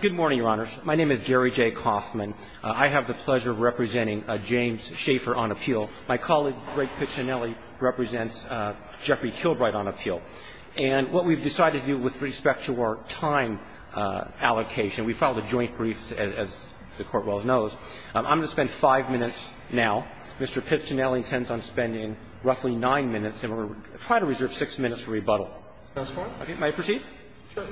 Good morning, Your Honors. My name is Gary J. Kauffman. I have the pleasure of representing James Schaefer on appeal. My colleague, Greg Piccinelli, represents Jeffrey Kilbride on appeal. And what we've decided to do with respect to our time allocation, we filed a joint brief, as the Court well knows. I'm going to spend five minutes now. Mr. Piccinelli intends on spending roughly nine minutes, and we're going to try to reserve six minutes for rebuttal. If that's fine. Okay. May I proceed? Sure.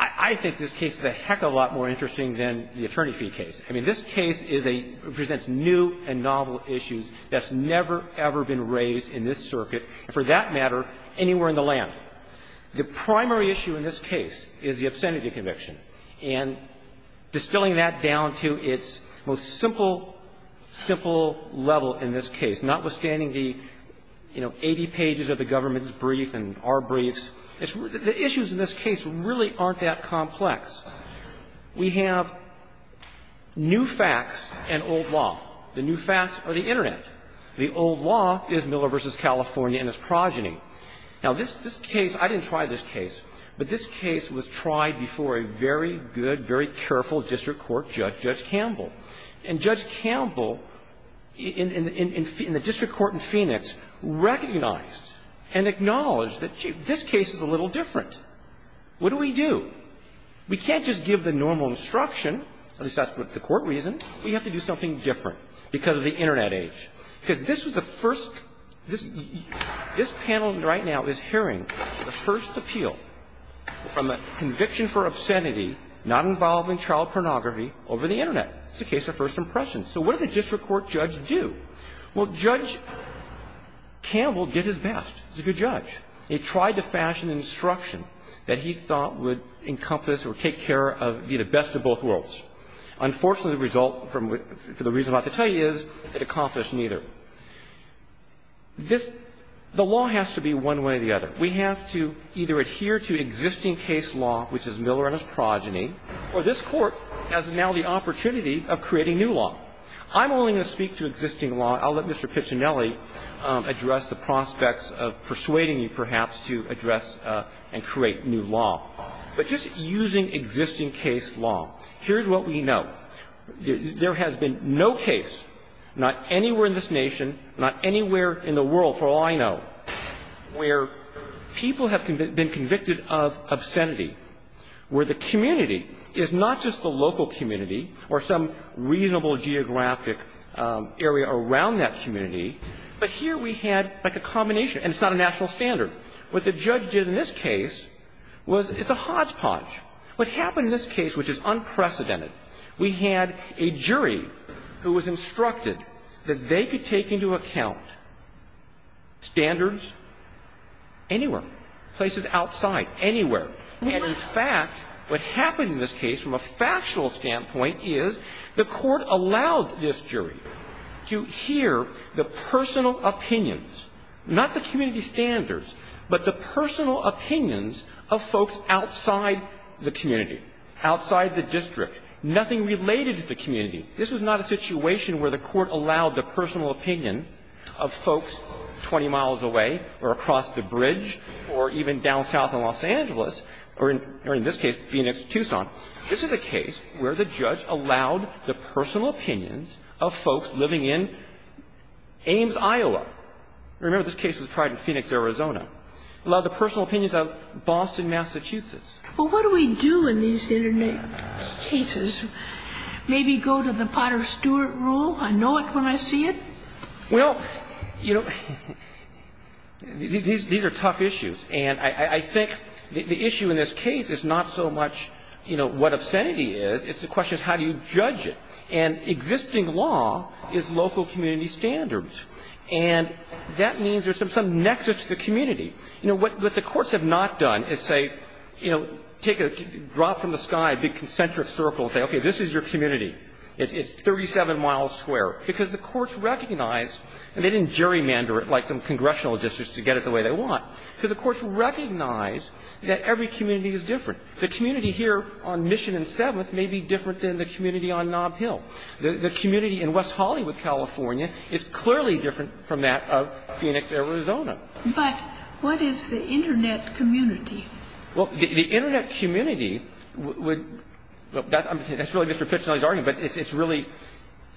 I think this case is a heck of a lot more interesting than the attorney fee case. I mean, this case is a – presents new and novel issues that's never, ever been raised in this circuit, and for that matter, anywhere in the land. The primary issue in this case is the obscenity conviction. And distilling that down to its most simple, simple level in this case, notwithstanding the, you know, 80 pages of the government's brief and our briefs, the issues in this case really aren't that complex. We have new facts and old law. The new facts are the Internet. The old law is Miller v. California and its progeny. Now, this case, I didn't try this case, but this case was tried before a very good, very careful district court judge, Judge Campbell. And Judge Campbell in the district court in Phoenix recognized and acknowledged that, gee, this case is a little different. What do we do? We can't just give the normal instruction, at least that's what the court reasoned. We have to do something different because of the Internet age. Because this was the first – this panel right now is hearing the first appeal from a conviction for obscenity not involving child pornography over the Internet. It's a case of first impressions. So what did the district court judge do? Well, Judge Campbell did his best. He's a good judge. He tried to fashion an instruction that he thought would encompass or take care of the best of both worlds. Unfortunately, the result from – for the reason I'm about to tell you is it accomplished neither. This – the law has to be one way or the other. We have to either adhere to existing case law, which is Miller and his progeny, or this court has now the opportunity of creating new law. I'm only going to speak to existing law. I'll let Mr. Piccinelli address the prospects of persuading you, perhaps, to address and create new law. But just using existing case law, here's what we know. There has been no case, not anywhere in this nation, not anywhere in the world, for all I know, where people have been convicted of obscenity, where the community is not just the local community or some reasonable geographic area around that community, but here we had, like, a combination. And it's not a national standard. What the judge did in this case was – it's a hodgepodge. What happened in this case, which is unprecedented, we had a jury who was instructed that they could take into account standards anywhere, places outside, anywhere. And, in fact, what happened in this case from a factual standpoint is the court allowed this jury to hear the personal opinions, not the community standards, but the personal opinions of folks outside the community, outside the district, nothing related to the community. This was not a situation where the court allowed the personal opinion of folks 20 miles away or across the bridge or even down south in Los Angeles, or in this case, Phoenix, Tucson. This is a case where the judge allowed the personal opinions of folks living in Ames, Iowa. Remember, this case was tried in Phoenix, Arizona. Allowed the personal opinions of Boston, Massachusetts. Well, what do we do in these internet cases? Maybe go to the Potter Stewart rule? I know it when I see it? Well, you know, these are tough issues. And I think the issue in this case is not so much, you know, what obscenity is, it's the question of how do you judge it. And existing law is local community standards. And that means there's some nexus to the community. You know, what the courts have not done is say, you know, take a drop from the sky, a big concentric circle, and say, okay, this is your community. It's 37 miles square. Because the courts recognize, and they didn't gerrymander it like some congressional districts to get it the way they want. Because the courts recognize that every community is different. The community here on Mission and 7th may be different than the community on Nob Hill. The community in West Hollywood, California is clearly different from that of Phoenix, Arizona. But what is the Internet community? Well, the Internet community would – that's really Mr. Pitchnell's argument, but it's really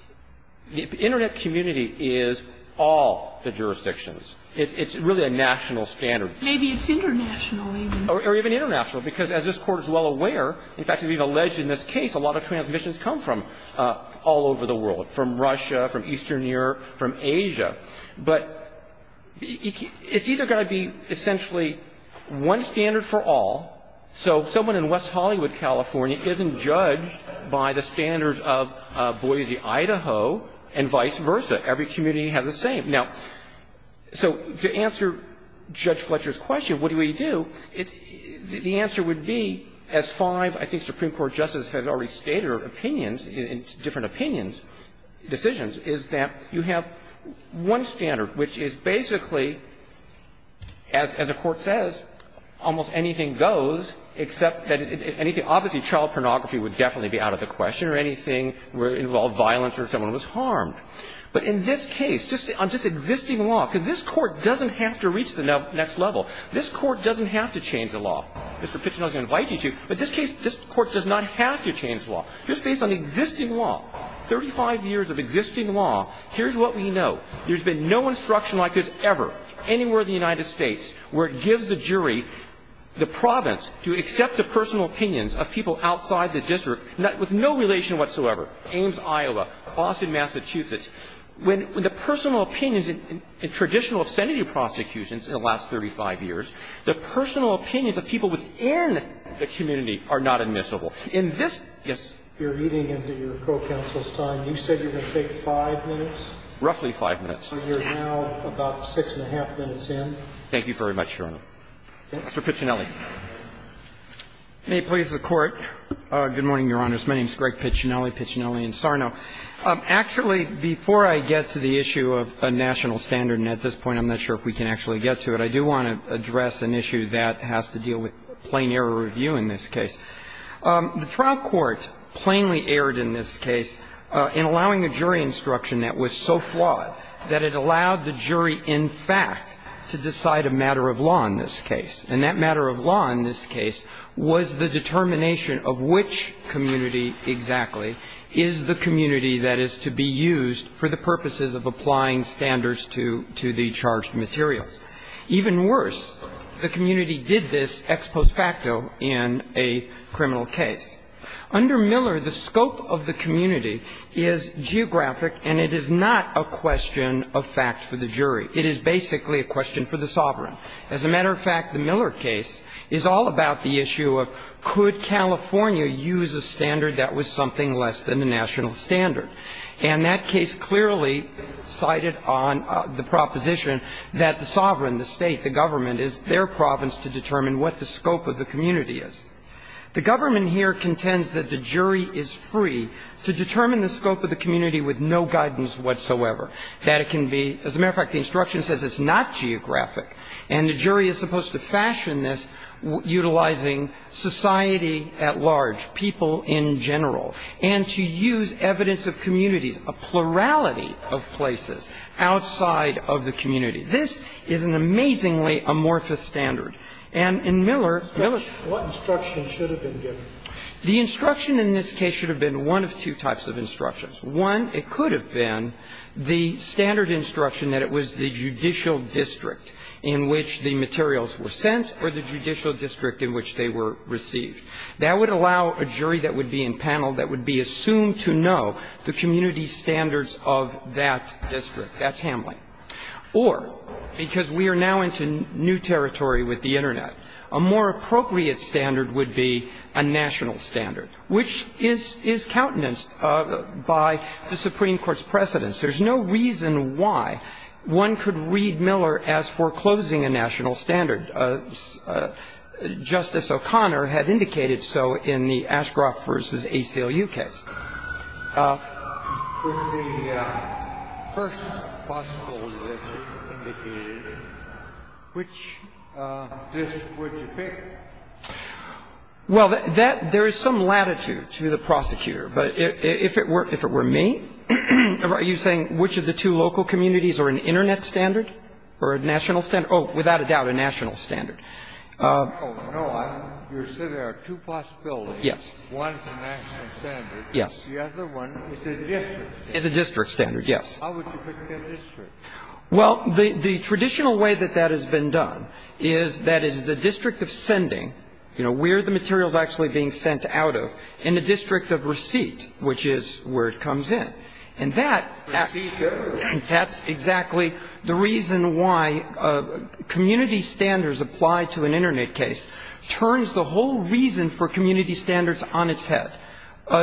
– the Internet community is all the jurisdictions. It's really a national standard. Maybe it's international even. Or even international. Because as this Court is well aware, in fact, it's been alleged in this case, a lot of transmissions come from all over the world, from Russia, from Eastern Europe, from Asia. But it's either going to be essentially one standard for all, so someone in West Hollywood, California, isn't judged by the standards of Boise, Idaho, and vice versa. Every community has the same. Now, so to answer Judge Fletcher's question, what do we do, the answer would be, as five, I think, Supreme Court justices have already stated opinions, different opinions, decisions, is that you have one standard, which is basically, as a court says, almost anything goes except that – obviously, child pornography would definitely be out of the question or anything where it involved violence or someone was harmed. But in this case, just on just existing law, because this Court doesn't have to reach the next level, this Court doesn't have to change the law. Mr. Pitchnell's going to invite you to, but this case, this Court does not have to change the law. Just based on existing law, 35 years of existing law, here's what we know. There's been no instruction like this ever anywhere in the United States where it gives the jury the province to accept the personal opinions of people outside the district with no relation whatsoever. Ames, Iowa, Boston, Massachusetts. When the personal opinions in traditional obscenity prosecutions in the last 35 years, the personal opinions of people within the community are not admissible. In this case, you're eating into your co-counsel's time. You said you're going to take 5 minutes? Roughly 5 minutes. So you're now about 6-1⁄2 minutes in. Thank you very much, Your Honor. Mr. Pitchnell. May it please the Court. Good morning, Your Honors. My name is Greg Pitchnell, Pitchnellian-Sarno. Actually, before I get to the issue of a national standard, and at this point I'm not sure if we can actually get to it, I do want to address an issue that has to deal with plain error review in this case. The trial court plainly erred in this case in allowing a jury instruction that was so flawed that it allowed the jury, in fact, to decide a matter of law in this case. And that matter of law in this case was the determination of which community exactly is the community that is to be used for the purposes of applying standards to the charged materials. Even worse, the community did this ex post facto in a criminal case. Under Miller, the scope of the community is geographic, and it is not a question of fact for the jury. It is basically a question for the sovereign. As a matter of fact, the Miller case is all about the issue of could California use a standard that was something less than a national standard. And that case clearly cited on the proposition that the sovereign, the State, the government, is their province to determine what the scope of the community is. The government here contends that the jury is free to determine the scope of the community with no guidance whatsoever. That it can be as a matter of fact, the instruction says it's not geographic, and the jury is supposed to fashion this utilizing society at large, people in general, and to use evidence of communities, a plurality of places outside of the community. This is an amazingly amorphous standard. And in Miller, Miller's Kennedy, what instruction should have been given? The instruction in this case should have been one of two types of instructions. One, it could have been the standard instruction that it was the judicial district in which the materials were sent or the judicial district in which they were received. That would allow a jury that would be in panel that would be assumed to know the community's standards of that district. That's Hamline. Or, because we are now into new territory with the Internet, a more appropriate standard would be a national standard, which is, is countenanced by the Supreme Court's precedence. There's no reason why one could read Miller as foreclosing a national standard. Justice O'Connor had indicated so in the Ashcroft v. ACLU case. With the first possible list indicated, which list would you pick? Well, that – there is some latitude to the prosecutor. But if it were me, are you saying which of the two local communities are an Internet standard or a national standard? Oh, without a doubt, a national standard. Oh, no. You're saying there are two possibilities. Yes. One is a national standard. Yes. The other one is a district standard. Is a district standard, yes. How would you pick that district? Well, the traditional way that that has been done is that it is the district of sending, you know, where the material is actually being sent out of, in the district of receipt, which is where it comes in. And that – Receipt of? That's exactly the reason why community standards applied to an Internet case turns the whole reason for community standards on its head.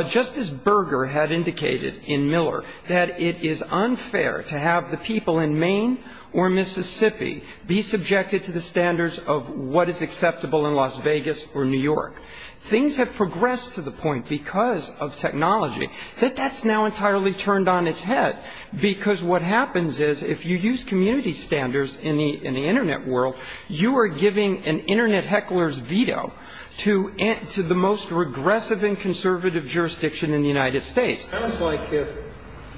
Justice Berger had indicated in Miller that it is unfair to have the people in Maine or Mississippi be subjected to the standards of what is acceptable in Las Vegas or New York. Things have progressed to the point, because of technology, that that's now entirely turned on its head. Because what happens is, if you use community standards in the Internet world, you are giving an Internet heckler's veto to the most regressive and conservative jurisdiction in the United States. It sounds like if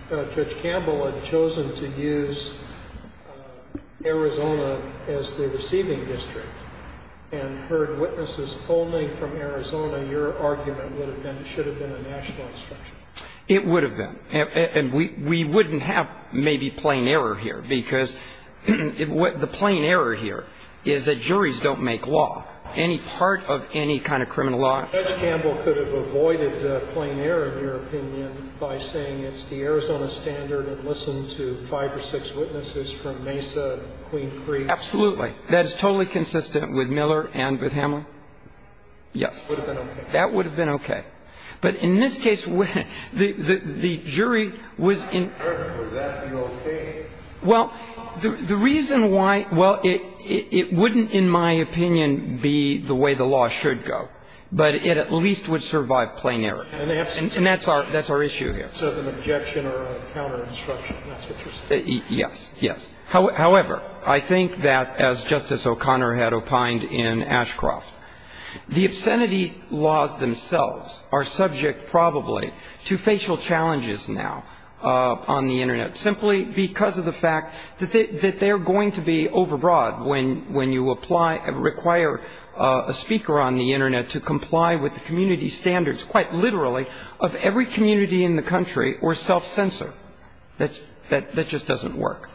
Judge Campbell had chosen to use Arizona as the receiving district and heard witnesses polling from Arizona, your argument would have been it should have been a national instruction. It would have been. And we wouldn't have maybe plain error here, because the plain error here is that juries don't make law. Any part of any kind of criminal law – Judge Campbell could have avoided the plain error, in your opinion, by saying it's the Arizona standard and listened to five or six witnesses from Mesa, Queen Creek. Absolutely. That is totally consistent with Miller and with Hamlin. Yes. That would have been okay. That would have been okay. But in this case, the jury was in – Would that be okay? Well, the reason why – well, it wouldn't, in my opinion, be the way the law should go. But it at least would survive plain error. And that's our issue here. So it's an objection or a counter-instruction. That's what you're saying. Yes. Yes. However, I think that, as Justice O'Connor had opined in Ashcroft, the obscenity of these laws themselves are subject, probably, to facial challenges now on the Internet, simply because of the fact that they're going to be overbroad when you apply – require a speaker on the Internet to comply with the community standards, quite literally, of every community in the country or self-censor. That just doesn't work.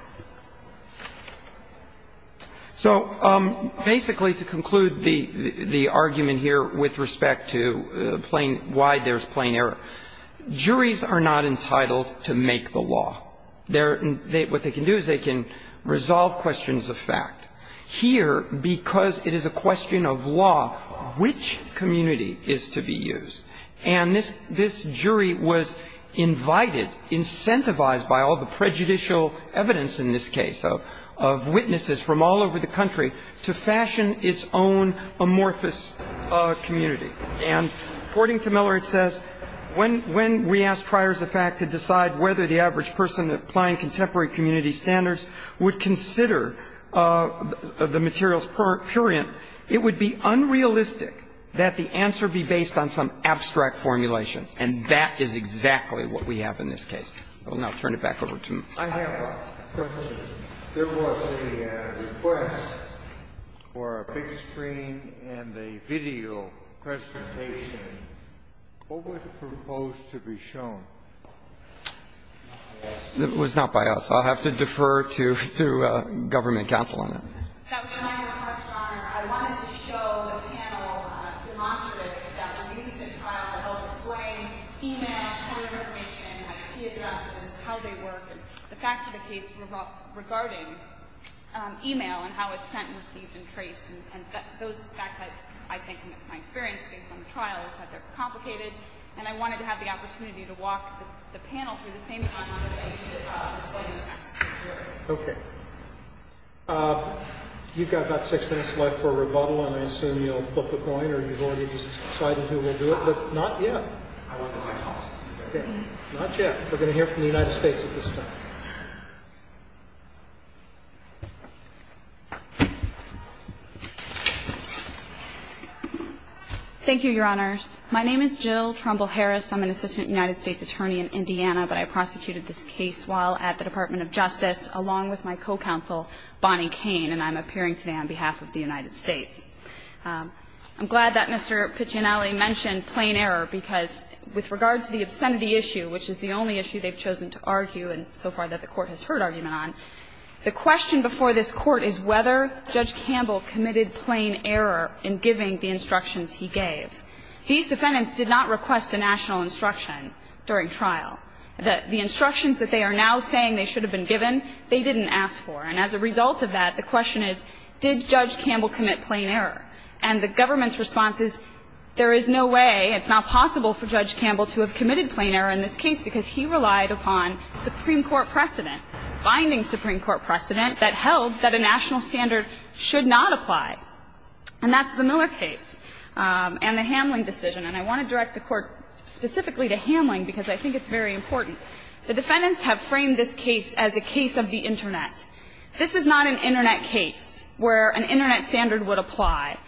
So, basically, to conclude the argument here with respect to plain – why there's plain error, juries are not entitled to make the law. They're – what they can do is they can resolve questions of fact. Here, because it is a question of law, which community is to be used? And this jury was invited, incentivized by all the prejudicial evidence of the community standards, in this case, of witnesses from all over the country, to fashion its own amorphous community. And according to Miller, it says, when we ask triers of fact to decide whether the average person applying contemporary community standards would consider the materials purient, it would be unrealistic that the answer be based on some abstract formulation. And that is exactly what we have in this case. I will now turn it back over to Mr. Miller. The question. There was a request for a big screen and a video presentation. What was proposed to be shown? It was not by us. I'll have to defer to government counsel on that. That was my request, Your Honor. I wanted to show the panel demonstratives that were used in trials that helped display e-mail, key information, key addresses, how they work, and the facts of the case regarding e-mail and how it's sent and received and traced. And those facts, I think, in my experience, based on the trial, is that they're complicated. And I wanted to have the opportunity to walk the panel through the same kind of things that I used to explain the facts to the jury. Okay. You've got about six minutes left for rebuttal, and I assume you'll flip a coin, or you've already decided who will do it? Not yet. Not yet. We're going to hear from the United States at this time. Thank you, Your Honors. My name is Jill Trumbull-Harris. I'm an assistant United States attorney in Indiana, but I prosecuted this case while at the Department of Justice, along with my co-counsel, Bonnie Kane, and I'm appearing today on behalf of the United States. I'm glad that Mr. Piccinelli mentioned plain error, because with regard to the obscenity issue, which is the only issue they've chosen to argue and so far that the Court has heard argument on, the question before this Court is whether Judge Campbell committed plain error in giving the instructions he gave. These defendants did not request a national instruction during trial. The instructions that they are now saying they should have been given, they didn't ask for. And as a result of that, the question is, did Judge Campbell commit plain error? And the government's response is, there is no way, it's not possible for Judge Campbell to have committed plain error in this case, because he relied upon Supreme Court precedent, binding Supreme Court precedent that held that a national standard should not apply. And that's the Miller case and the Hamling decision. And I want to direct the Court specifically to Hamling, because I think it's very important. The defendants have framed this case as a case of the Internet. This is not an Internet case where an Internet standard would apply.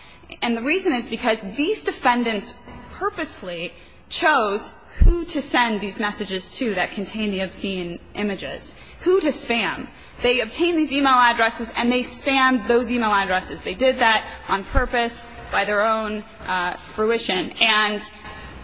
And the reason is because these defendants purposely chose who to send these messages to that contained the obscene images, who to spam. They obtained these e-mail addresses and they spammed those e-mail addresses. They did that on purpose, by their own fruition. And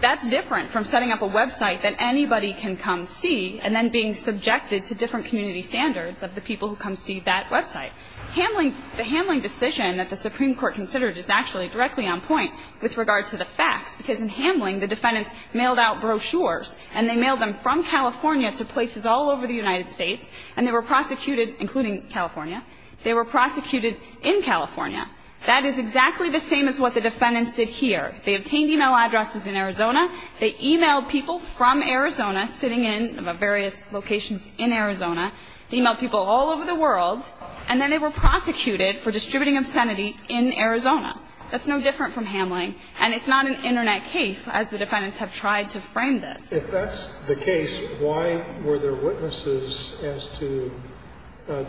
that's different from setting up a website that anybody can come see and then being subjected to different community standards of the people who come see that website. Hamling, the Hamling decision that the Supreme Court considered is actually directly on point with regard to the facts, because in Hamling, the defendants mailed out brochures and they mailed them from California to places all over the United States, and they were prosecuted, including California. They were prosecuted in California. That is exactly the same as what the defendants did here. They obtained e-mail addresses in Arizona. They e-mailed people from Arizona sitting in various locations in Arizona. They e-mailed people all over the world. And then they were prosecuted for distributing obscenity in Arizona. That's no different from Hamling. And it's not an Internet case, as the defendants have tried to frame this. If that's the case, why were there witnesses as to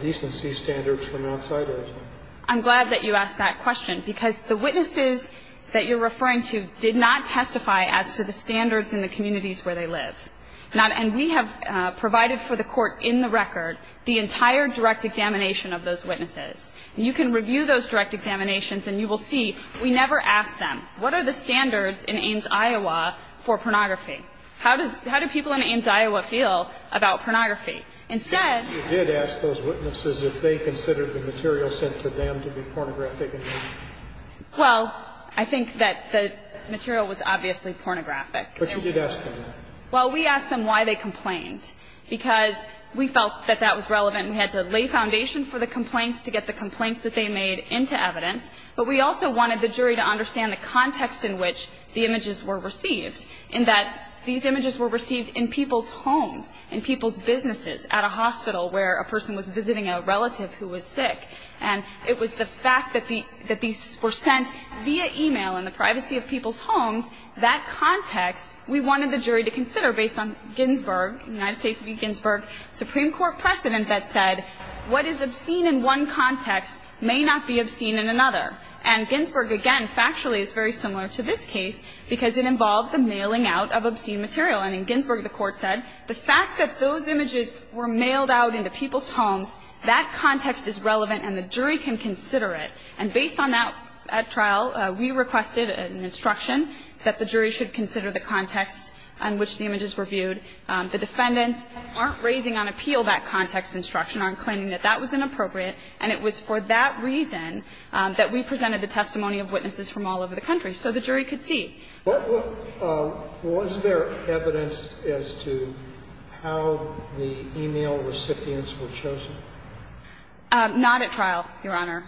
decency standards from outside Arizona? I'm glad that you asked that question, because the witnesses that you're referring to did not testify as to the standards in the communities where they live. And we have provided for the Court in the record the entire direct examination of those witnesses. And you can review those direct examinations, and you will see we never asked them, what are the standards in Ames, Iowa, for pornography? How do people in Ames, Iowa, feel about pornography? You did ask those witnesses if they considered the material sent to them to be pornographic at all. Well, I think that the material was obviously pornographic. But you did ask them that. Well, we asked them why they complained, because we felt that that was relevant. We had to lay foundation for the complaints to get the complaints that they made into evidence. But we also wanted the jury to understand the context in which the images were received, in that these images were received in people's homes, in people's businesses, at a hospital where a person was visiting a relative who was sick. And it was the fact that these were sent via e-mail in the privacy of people's homes, that context, we wanted the jury to consider based on Ginsburg, United States v. Ginsburg, Supreme Court precedent that said, what is obscene in one context may not be obscene in another. And Ginsburg, again, factually is very similar to this case, because it involved the mailing out of obscene material. And in Ginsburg, the Court said the fact that those images were mailed out into people's homes, that context is relevant and the jury can consider it. And based on that trial, we requested an instruction that the jury should consider the context in which the images were viewed. The defendants aren't raising on appeal that context instruction, aren't claiming that that was inappropriate. And it was for that reason that we presented the testimony of witnesses from all over the country, so the jury could see. Sotomayor was there evidence as to how the e-mail recipients were chosen? Not at trial, Your Honor.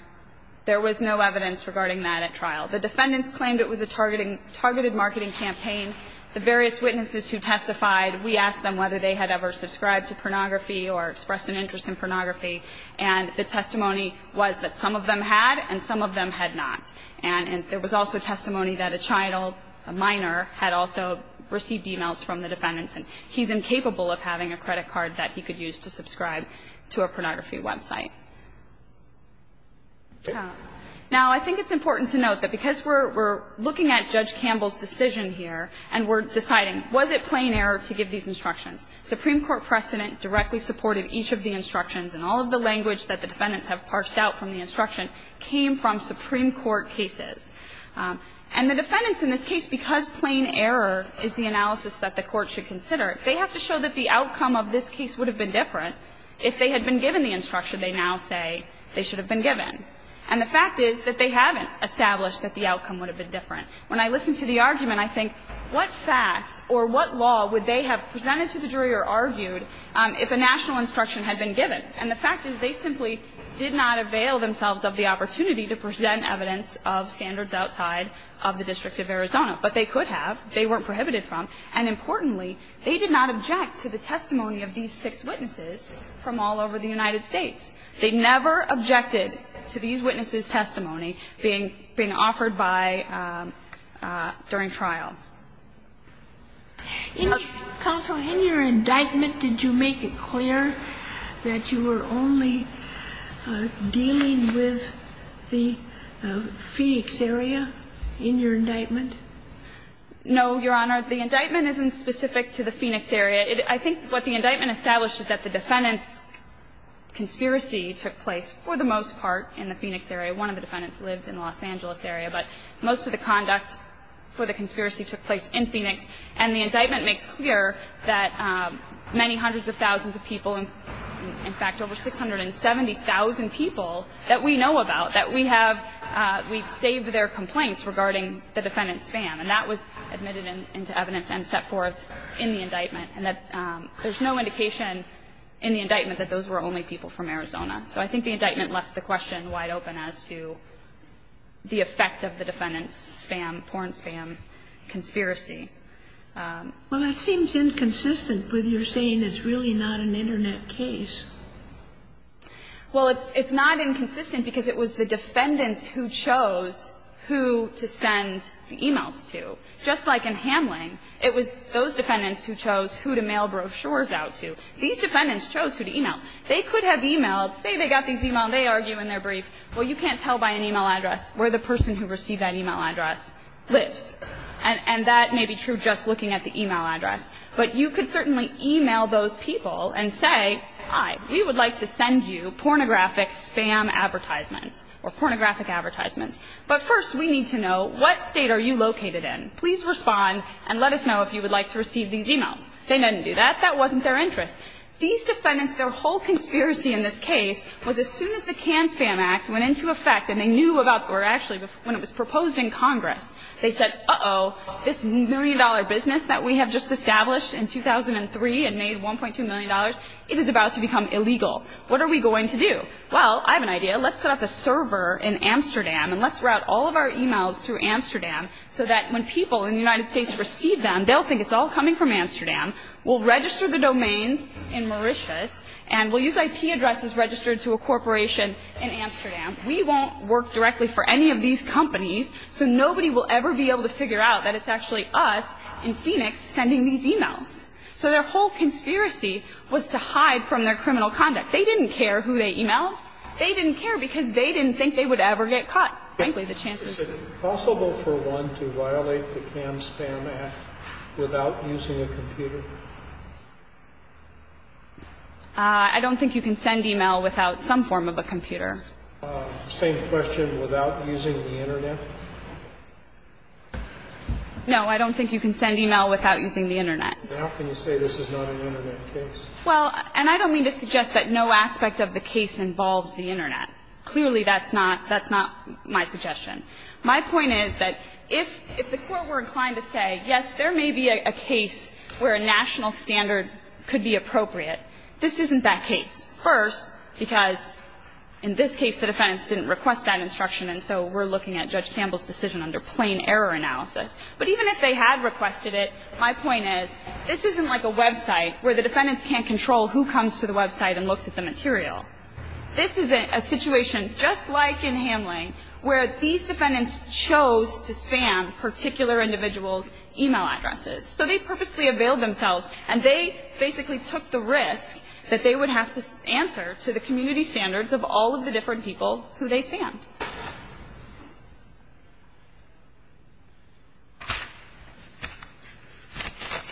There was no evidence regarding that at trial. The defendants claimed it was a targeted marketing campaign. The various witnesses who testified, we asked them whether they had ever subscribed to pornography or expressed an interest in pornography. And the testimony was that some of them had and some of them had not. And there was also testimony that a child, a minor, had also received e-mails from the defendants, and he's incapable of having a credit card that he could use to subscribe to a pornography website. Now, I think it's important to note that because we're looking at Judge Campbell's decision here and we're deciding, was it plain error to give these instructions? Supreme Court precedent directly supported each of the instructions, and all of the And the defendants in this case, because plain error is the analysis that the Court should consider, they have to show that the outcome of this case would have been different if they had been given the instruction they now say they should have been given. And the fact is that they haven't established that the outcome would have been different. When I listen to the argument, I think what facts or what law would they have presented to the jury or argued if a national instruction had been given? And the fact is they simply did not avail themselves of the opportunity to present evidence of standards outside of the District of Arizona. But they could have. They weren't prohibited from. And importantly, they did not object to the testimony of these six witnesses from all over the United States. They never objected to these witnesses' testimony being offered by ‑‑ during trial. Kagan in your indictment, did you make it clear that you were only dealing with the Phoenix area in your indictment? No, Your Honor. The indictment isn't specific to the Phoenix area. I think what the indictment established is that the defendant's conspiracy took place for the most part in the Phoenix area. One of the defendants lived in the Los Angeles area. But most of the conduct for the conspiracy took place in Phoenix. And the indictment makes clear that many hundreds of thousands of people, in fact, over 670,000 people that we know about, that we have saved their complaints regarding the defendant's spam. And that was admitted into evidence and set forth in the indictment. And there's no indication in the indictment that those were only people from Arizona. So I think the indictment left the question wide open as to the effect of the defendant's spam, porn spam conspiracy. Well, that seems inconsistent with your saying it's really not an Internet case. Well, it's not inconsistent because it was the defendants who chose who to send the e-mails to. Just like in Hamling, it was those defendants who chose who to mail brochures out to. These defendants chose who to e-mail. They could have e-mailed, say they got these e-mails, they argue in their brief, well, you can't tell by an e-mail address where the person who received that e-mail address lives. And that may be true just looking at the e-mail address. But you could certainly e-mail those people and say, hi, we would like to send you pornographic spam advertisements or pornographic advertisements. But first we need to know what state are you located in. Please respond and let us know if you would like to receive these e-mails. They didn't do that. That wasn't their interest. These defendants, their whole conspiracy in this case was as soon as the CAN Spam Act went into effect and they knew about or actually when it was proposed in Congress, they said, uh-oh, this million-dollar business that we have just established in 2003 and made $1.2 million, it is about to become illegal. What are we going to do? Well, I have an idea. Let's set up a server in Amsterdam and let's route all of our e-mails through Amsterdam so that when people in the United States receive them, they'll think it's all coming from Amsterdam. We'll register the domains in Mauritius and we'll use IP addresses registered to a corporation in Amsterdam. We won't work directly for any of these companies, so nobody will ever be able to figure out that it's actually us in Phoenix sending these e-mails. So their whole conspiracy was to hide from their criminal conduct. They didn't care who they e-mailed. They didn't care because they didn't think they would ever get caught, frankly, the chances. I don't think you can send e-mail without some form of a computer. No, I don't think you can send e-mail without using the Internet. Well, and I don't mean to suggest that no aspect of the case involves the Internet. Clearly, that's not my suggestion. My point is that if the Court were inclined to say, yes, there may be a case where a national standard could be appropriate, this isn't that case. First, because in this case, the defendants didn't request that instruction, and so we're looking at Judge Campbell's decision under plain error analysis. But even if they had requested it, my point is this isn't like a website where the defendants can't control who comes to the website and looks at the material. This is a situation just like in Hamline, where these defendants chose to spam particular individuals' e-mail addresses. So they purposely availed themselves, and they basically took the risk that they would have to answer to the community standards of all of the different people who they spammed.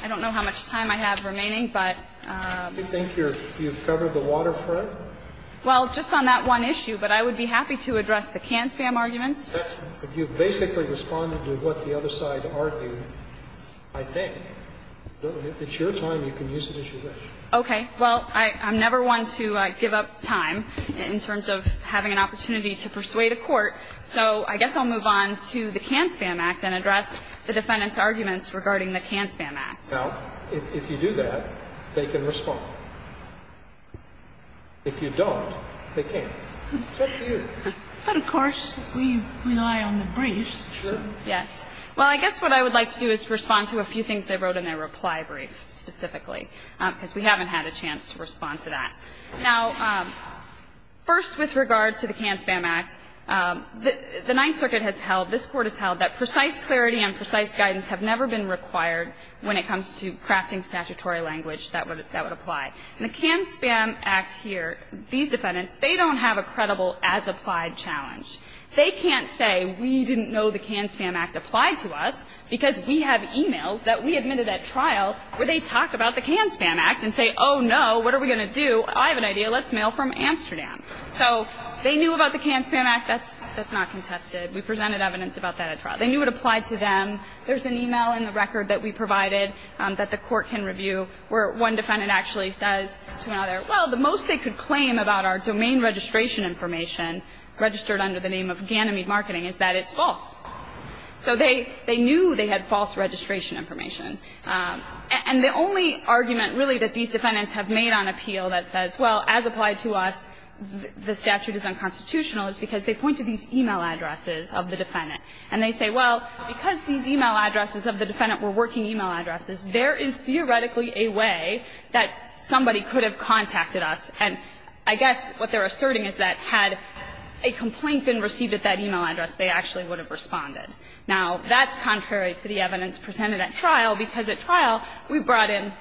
I don't know how much time I have remaining, but... Do you think you've covered the waterfront? Well, just on that one issue, but I would be happy to address the can-spam arguments. You've basically responded to what the other side argued, I think. It's your time. You can use it as you wish. Okay. Well, I'm never one to give up time in terms of having an opportunity to persuade a court, so I guess I'll move on to the Can-Spam Act and address the defendants' arguments regarding the Can-Spam Act. Now, if you do that, they can respond. If you don't, they can't. It's up to you. But, of course, we rely on the briefs. Sure. Yes. Well, I guess what I would like to do is respond to a few things they wrote in their reply brief specifically, because we haven't had a chance to respond to that. Now, first, with regard to the Can-Spam Act, the Ninth Circuit has held, this has never been required when it comes to crafting statutory language that would apply. In the Can-Spam Act here, these defendants, they don't have a credible as-applied challenge. They can't say, we didn't know the Can-Spam Act applied to us because we have e-mails that we admitted at trial where they talk about the Can-Spam Act and say, oh, no, what are we going to do? I have an idea. Let's mail from Amsterdam. So they knew about the Can-Spam Act. That's not contested. We presented evidence about that at trial. They knew it applied to them. There's an e-mail in the record that we provided that the court can review where one defendant actually says to another, well, the most they could claim about our domain registration information registered under the name of Ganymede Marketing is that it's false. So they knew they had false registration information. And the only argument, really, that these defendants have made on appeal that says, well, as applied to us, the statute is unconstitutional, is because they point to these e-mail addresses of the defendant. And they say, well, because these e-mail addresses of the defendant were working e-mail addresses, there is theoretically a way that somebody could have contacted us. And I guess what they're asserting is that had a complaint been received at that e-mail address, they actually would have responded. Now, that's contrary to the evidence presented at trial, because at trial we brought in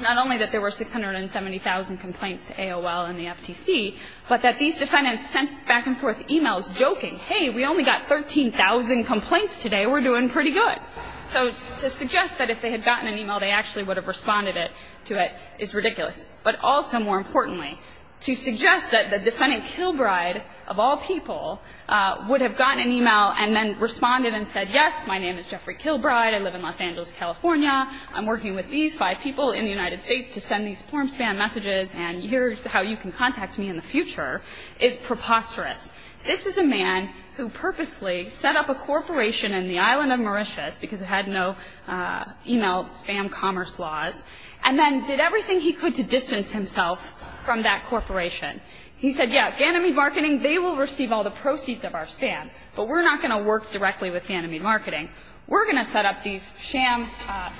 not only that there were 670,000 complaints to AOL and the FTC, but that these defendants sent back and forth e-mails joking, hey, we only got 13,000 complaints today. We're doing pretty good. So to suggest that if they had gotten an e-mail, they actually would have responded to it is ridiculous. But also, more importantly, to suggest that the defendant Kilbride, of all people, would have gotten an e-mail and then responded and said, yes, my name is Jeffrey Kilbride. I live in Los Angeles, California. I'm working with these five people in the United States to send these form spam messages, and here's how you can contact me in the future, is preposterous. This is a man who purposely set up a corporation in the island of Mauritius, because it had no e-mail spam commerce laws, and then did everything he could to distance himself from that corporation. He said, yes, Ganymede Marketing, they will receive all the proceeds of our spam, but we're not going to work directly with Ganymede Marketing. We're going to set up these sham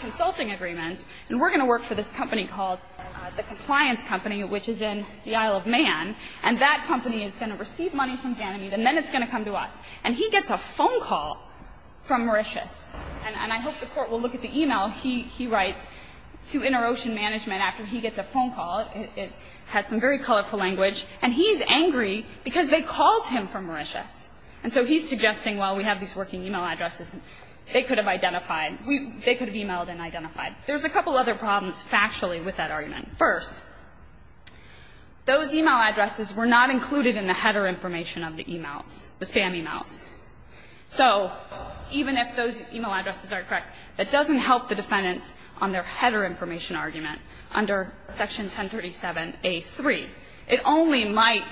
consulting agreements, and we're going to work for this company called the Compliance Company, which is in the Isle of Man, and that And he gets a phone call from Mauritius, and I hope the Court will look at the e-mail he writes to InterOcean Management after he gets a phone call. It has some very colorful language. And he's angry because they called him from Mauritius. And so he's suggesting, well, we have these working e-mail addresses. They could have identified. They could have e-mailed and identified. There's a couple other problems factually with that argument. First, those e-mail addresses were not included in the header information of the e-mails, the spam e-mails. So even if those e-mail addresses are correct, that doesn't help the defendants on their header information argument under Section 1037A3. It only might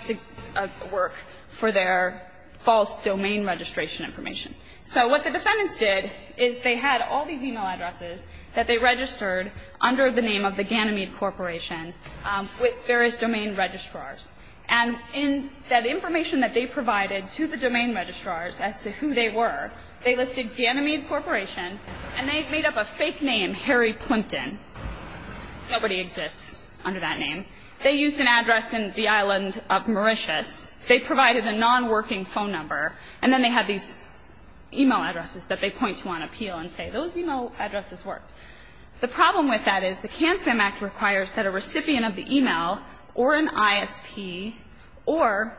work for their false domain registration information. So what the defendants did is they had all these e-mail addresses that they registered under the name of the Ganymede Corporation with various domain registrars. And in that information that they provided to the domain registrars as to who they were, they listed Ganymede Corporation, and they made up a fake name, Harry Plimpton. Nobody exists under that name. They used an address in the island of Mauritius. They provided a non-working phone number, and then they had these e-mail addresses that they point to on appeal and say, those e-mail addresses worked. The problem with that is the CAN-SPAM Act requires that a recipient of the e-mail or an ISP or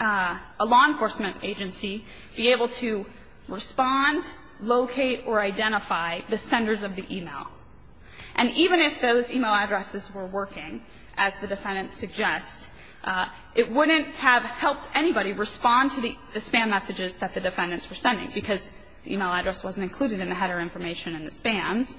a law enforcement agency be able to respond, locate, or identify the senders of the e-mail. And even if those e-mail addresses were working, as the defendants suggest, it wouldn't have helped anybody respond to the spam messages that the defendants were sending because the e-mail address wasn't included in the header information and the spams.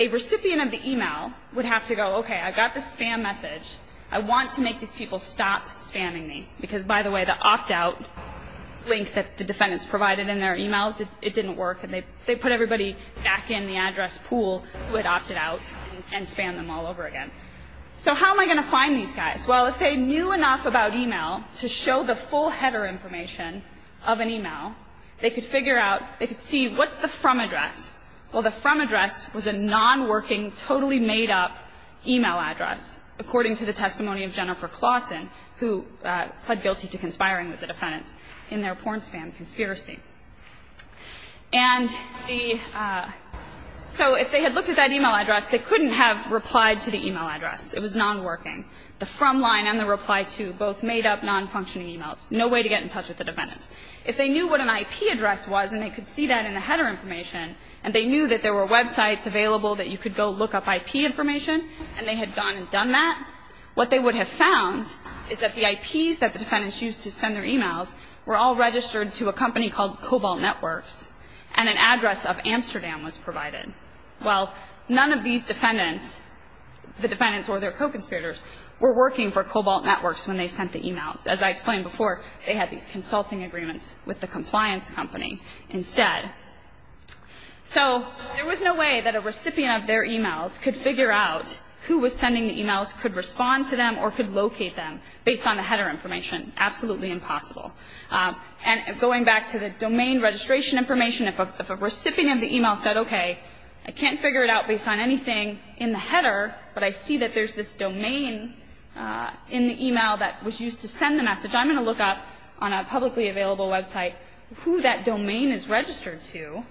A recipient of the e-mail would have to go, okay, I've got this spam message. I want to make these people stop spamming me because, by the way, the opt-out link that the defendants provided in their e-mails, it didn't work, and they put everybody back in the address pool who had opted out and spammed them all over again. So how am I going to find these guys? Well, if they knew enough about e-mail to show the full header information of an e-mail, they could figure out, they could see what's the from address. Well, the from address was a non-working, totally made-up e-mail address, according to the testimony of Jennifer Claussen, who pled guilty to conspiring with the defendants in their porn spam conspiracy. And the so if they had looked at that e-mail address, they couldn't have replied to the e-mail address. It was non-working. The from line and the reply to, both made-up, non-functioning e-mails. No way to get in touch with the defendants. If they knew what an IP address was, and they could see that in the header information, and they knew that there were websites available that you could go look up IP information, and they had gone and done that, what they would have found is that the IPs that the defendants used to send their e-mails were all registered to a company called Cobalt Networks, and an address of Amsterdam was provided. Well, none of these defendants, the defendants or their co-conspirators, were working for Cobalt Networks when they sent the e-mails. As I explained before, they had these consulting agreements with the compliance company instead. So there was no way that a recipient of their e-mails could figure out who was sending the e-mails, could respond to them, or could locate them based on the header information. Absolutely impossible. And going back to the domain registration information, if a recipient of the e-mail said, okay, I can't figure it out based on anything in the header, but I see that there's this domain in the e-mail that was used to send the message, I'm going to look up on a publicly available website who that domain is registered to,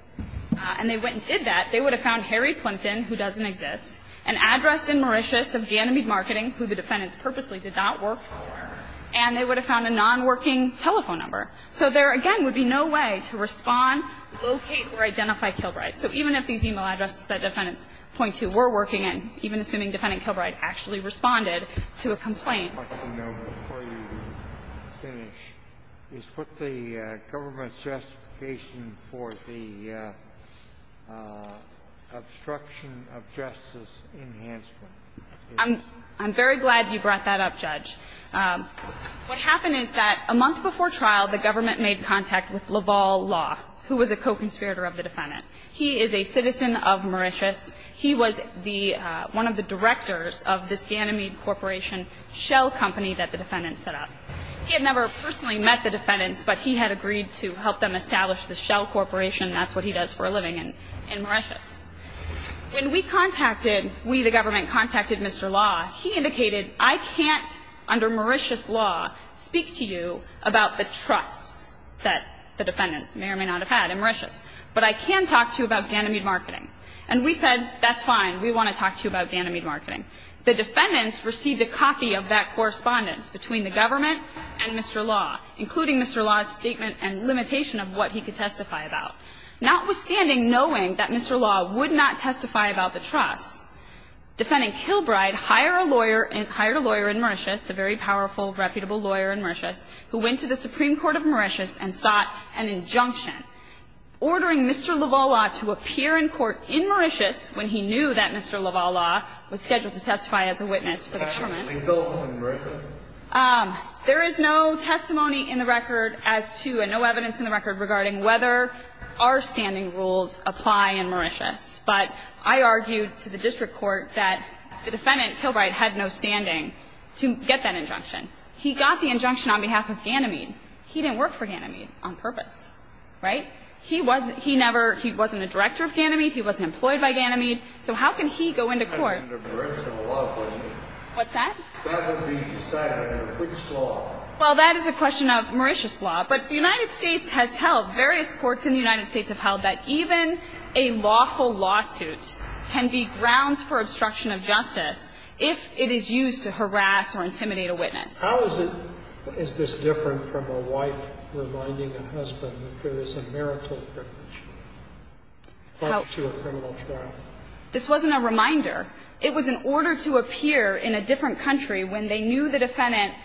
and they went and did that, they would have found Harry Plimpton, who doesn't exist, an address in Mauritius of Ganymede Marketing, who the defendants purposely did not work for, and they would have found a nonworking telephone number. So there, again, would be no way to respond, locate, or identify Kilbride. So even if these e-mail addresses that defendants point to were working in, even assuming defendant Kilbride actually responded to a complaint. Sotomayor, before you finish, is what the government's justification for the obstruction of justice enhancement is? I'm very glad you brought that up, Judge. What happened is that a month before trial, the government made contact with Laval Law, who was a co-conspirator of the defendant. He is a citizen of Mauritius. He was the one of the directors of this Ganymede Corporation shell company that the defendants set up. He had never personally met the defendants, but he had agreed to help them establish the shell corporation, and that's what he does for a living in Mauritius. When we contacted, we, the government, contacted Mr. Law, he indicated, I can't, under Mauritius law, speak to you about the trusts that the defendants may or may not have had in Mauritius, but I can talk to you about Ganymede marketing. And we said, that's fine. We want to talk to you about Ganymede marketing. The defendants received a copy of that correspondence between the government and Mr. Law, including Mr. Law's statement and limitation of what he could testify about. Notwithstanding knowing that Mr. Law would not testify about the trusts, defending Kilbride hired a lawyer in Mauritius, a very powerful, reputable lawyer in Mauritius, who went to the Supreme Court of Mauritius and sought an injunction ordering Mr. Lavalla to appear in court in Mauritius when he knew that Mr. Lavalla was scheduled to testify as a witness for the government. There is no testimony in the record as to, and no evidence in the record regarding whether our standing rules apply in Mauritius, but I argued to the district court that the defendant, Kilbride, had no standing to get that injunction. He got the injunction on behalf of Ganymede. He didn't work for Ganymede on purpose, right? He wasn't a director of Ganymede. He wasn't employed by Ganymede. So how can he go into court? That would be decided under which law? Well, that is a question of Mauritius law. But the United States has held, that even a lawful lawsuit can be grounds for obstruction of justice if it is used to harass or intimidate a witness. How is it, is this different from a wife reminding a husband that there is a marital privilege, plus to a criminal trial? This wasn't a reminder. It was an order to appear in a different country when they knew the defendant,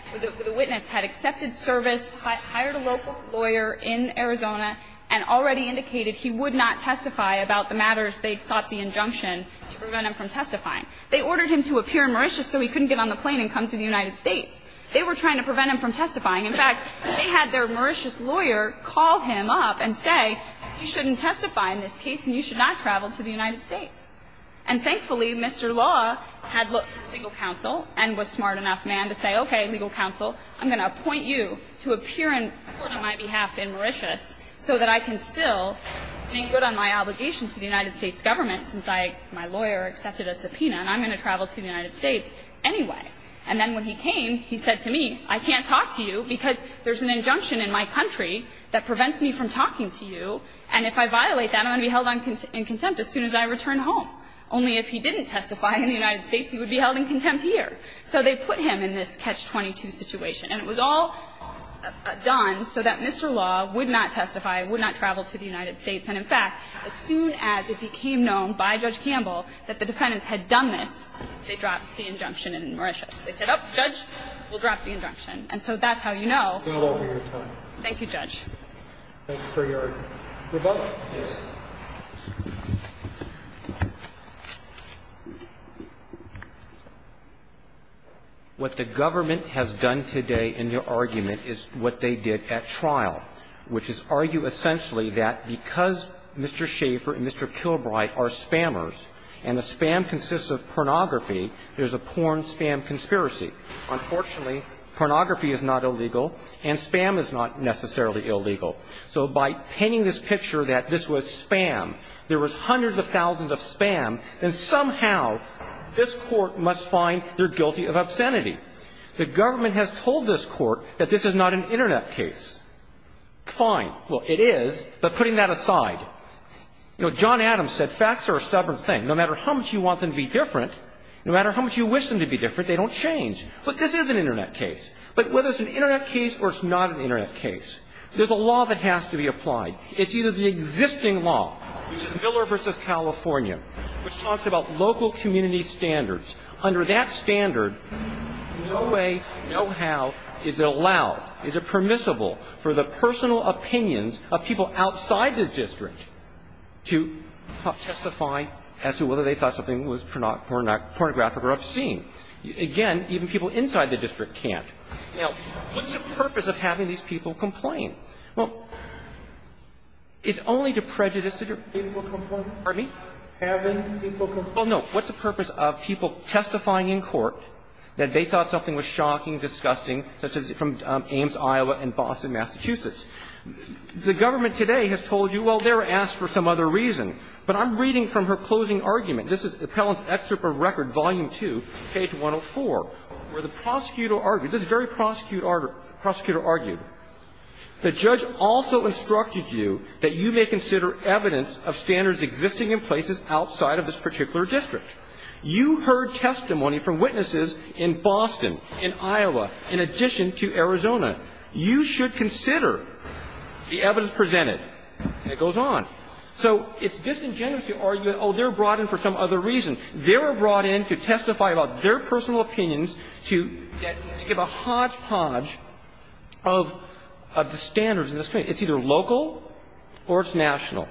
the witness had accepted service, hired a local lawyer in Arizona, and already indicated he would not testify about the matters they sought the injunction to prevent him from testifying. They ordered him to appear in Mauritius so he couldn't get on the plane and come to the United States. They were trying to prevent him from testifying. In fact, they had their Mauritius lawyer call him up and say, you shouldn't testify in this case and you should not travel to the United States. And thankfully, Mr. Law had legal counsel and was smart enough, man, to say, okay, legal counsel, I'm going to appoint you to appear in court on my behalf in Mauritius so that I can still make good on my obligation to the United States government since I, my lawyer, accepted a subpoena and I'm going to travel to the United States anyway. And then when he came, he said to me, I can't talk to you because there's an injunction in my country that prevents me from talking to you, and if I violate that, I'm going to be held in contempt as soon as I return home. Only if he didn't testify in the United States, he would be held in contempt So they put him in this catch-22 situation. And it was all done so that Mr. Law would not testify, would not travel to the United States. And in fact, as soon as it became known by Judge Campbell that the defendants had done this, they dropped the injunction in Mauritius. They said, oh, Judge, we'll drop the injunction. And so that's how you know. Thank you, Judge. Roberts. Roberts. What the government has done today in your argument is what they did at trial, which is argue essentially that because Mr. Schaefer and Mr. Kilbright are spammers and the spam consists of pornography, there's a porn-spam conspiracy. Unfortunately, pornography is not illegal and spam is not necessarily illegal. So by painting this picture that this was spam, there was hundreds of thousands of spam, and somehow this Court must find they're guilty of obscenity. The government has told this Court that this is not an Internet case. Fine. Well, it is. But putting that aside, you know, John Adams said facts are a stubborn thing. No matter how much you want them to be different, no matter how much you wish them to be different, they don't change. But this is an Internet case. But whether it's an Internet case or it's not an Internet case, there's a law that has to be applied. It's either the existing law, which is Miller v. California, which talks about local community standards. Under that standard, no way, no how is it allowed, is it permissible for the personal opinions of people outside the district to testify as to whether they thought something was pornographic or obscene. Again, even people inside the district can't. Now, what's the purpose of having these people complain? Well, it's only to prejudice people. Pardon me? Well, no. What's the purpose of people testifying in court that they thought something was shocking, disgusting, such as from Ames, Iowa, and Boston, Massachusetts? The government today has told you, well, they were asked for some other reason. But I'm reading from her closing argument. This is Appellant's Excerpt from Record, Volume 2, page 104, where the prosecutor argued, this very prosecutor argued, The judge also instructed you that you may consider evidence of standards existing in places outside of this particular district. You heard testimony from witnesses in Boston, in Iowa, in addition to Arizona. You should consider the evidence presented. And it goes on. So it's disingenuous to argue that, oh, they were brought in for some other reason. They were brought in to testify about their personal opinions to get to give a hodgepodge of the standards in this case. It's either local or it's national.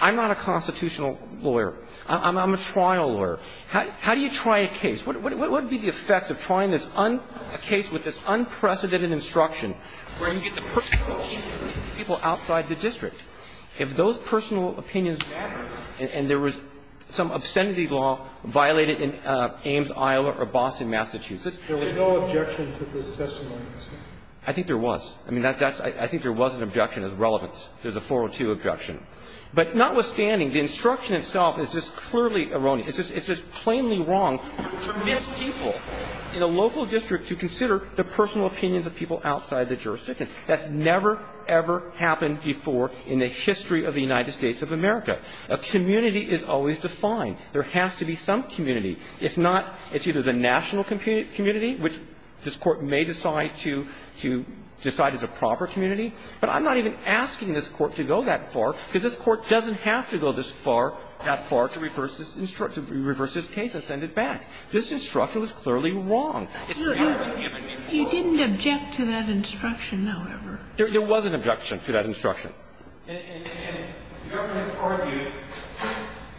I'm not a constitutional lawyer. I'm a trial lawyer. How do you try a case? What would be the effects of trying this on a case with this unprecedented instruction where you get the personal opinion of people outside the district? If those personal opinions matter and there was some obscenity law violated in Ames, Iowa, or Boston, Massachusetts, there was no objection to this testimony. I think there was. I mean, I think there was an objection as relevance. There's a 402 objection. But notwithstanding, the instruction itself is just clearly erroneous. It's just plainly wrong for mixed people in a local district to consider the personal opinions of people outside the jurisdiction. That's never, ever happened before in the history of the United States of America. A community is always defined. There has to be some community. It's not – it's either the national community, which this Court may decide to – to decide as a proper community. But I'm not even asking this Court to go that far, because this Court doesn't have to go this far – that far to reverse this case and send it back. This instruction was clearly wrong. It's never, ever happened before. You didn't object to that instruction, however. There was an objection to that instruction. And the government argued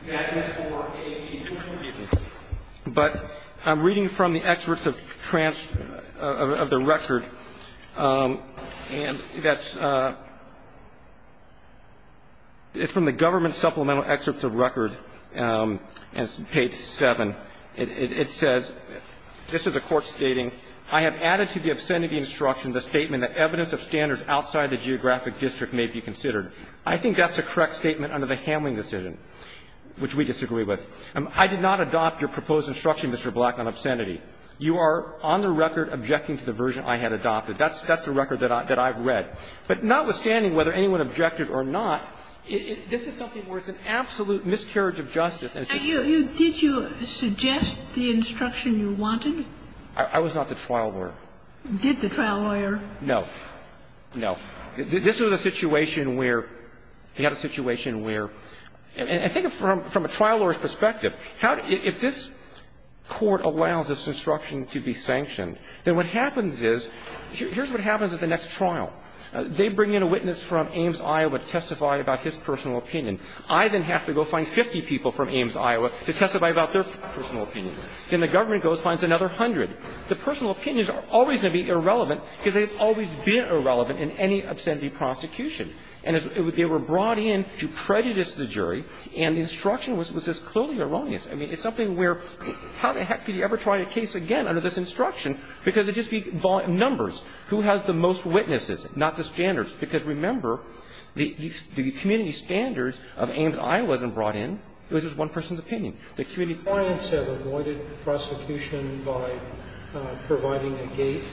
that is for a different reason. But I'm reading from the excerpts of the record, and that's – it's from the government supplemental excerpts of record, page 7. It says, this is a court stating, I have added to the obscenity instruction the statement that evidence of standards outside the geographic district may be considered. I think that's a correct statement under the Hamling decision, which we disagree with. I did not adopt your proposed instruction, Mr. Black, on obscenity. You are on the record objecting to the version I had adopted. That's the record that I've read. But notwithstanding whether anyone objected or not, this is something where it's an absolute miscarriage of justice. And you – did you suggest the instruction you wanted? I was not the trial lawyer. Did the trial lawyer? No. No. This was a situation where – we had a situation where – and I think from a trial lawyer's perspective, how – if this court allows this instruction to be sanctioned, then what happens is – here's what happens at the next trial. They bring in a witness from Ames, Iowa to testify about his personal opinion. I then have to go find 50 people from Ames, Iowa to testify about their personal opinions. Then the government goes and finds another 100. The personal opinions are always going to be irrelevant because they've always been irrelevant in any obscenity prosecution. And they were brought in to prejudice the jury, and the instruction was just clearly erroneous. I mean, it's something where how the heck could you ever try a case again under this instruction because it would just be numbers. Who has the most witnesses, not the standards? Because remember, the community standards of Ames, Iowa wasn't brought in. It was just one person's opinion. The community standards. The clients have avoided prosecution by providing a gate.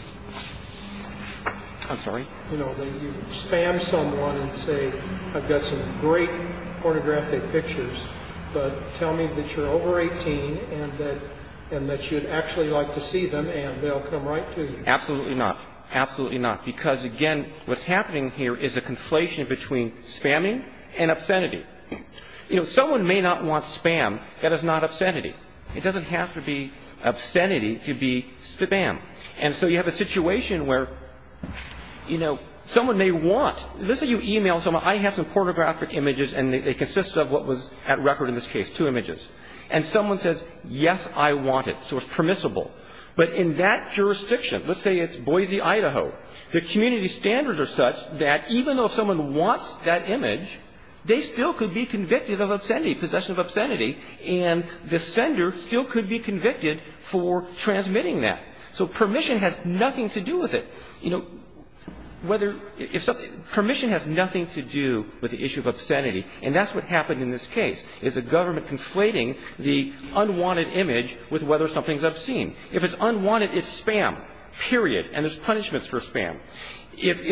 I'm sorry? You know, you spam someone and say, I've got some great pornographic pictures, but tell me that you're over 18 and that you'd actually like to see them, and they'll come right to you. Absolutely not. Absolutely not. Because, again, what's happening here is a conflation between spamming and obscenity. You know, someone may not want spam. That is not obscenity. It doesn't have to be obscenity to be spam. And so you have a situation where, you know, someone may want. Let's say you e-mail someone, I have some pornographic images, and they consist of what was at record in this case, two images. And someone says, yes, I want it. So it's permissible. But in that jurisdiction, let's say it's Boise, Idaho, the community standards are such that even though someone wants that image, they still could be convicted of obscenity, possession of obscenity, and the sender still could be convicted for transmitting that. So permission has nothing to do with it. You know, whether – permission has nothing to do with the issue of obscenity, and that's what happened in this case, is a government conflating the unwanted image with whether something's obscene. If it's unwanted, it's spam, period. And there's punishments for spam. If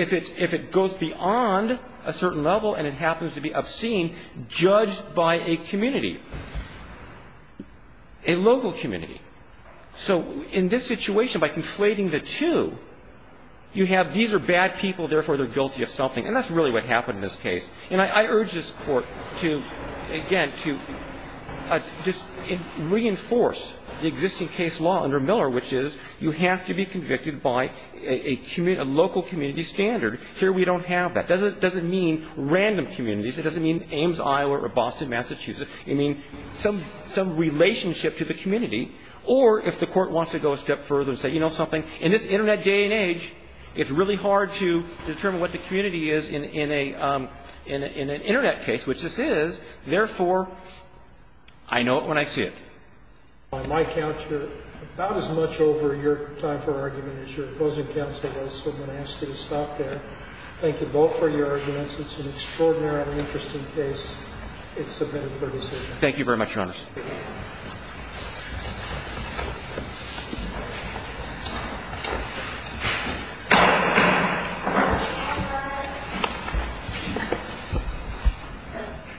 it goes beyond a certain level and it happens to be obscene, judged by a community, a local community. So in this situation, by conflating the two, you have these are bad people, therefore they're guilty of something. And that's really what happened in this case. And I urge this Court to, again, to just reinforce the existing case law under Miller, which is you have to be convicted by a local community standard. Here we don't have that. It doesn't mean random communities. It doesn't mean Ames, Iowa, or Boston, Massachusetts. It means some relationship to the community. Or if the Court wants to go a step further and say, you know something, in this Internet day and age, it's really hard to determine what the community is in an Internet case, which this is. Therefore, I know it when I see it. By my count, you're about as much over your time for argument as your opposing counsel was, so I'm going to ask you to stop there. Thank you both for your arguments. It's an extraordinarily interesting case. It's submitted for decision. Thank you very much, Your Honors. Thank you.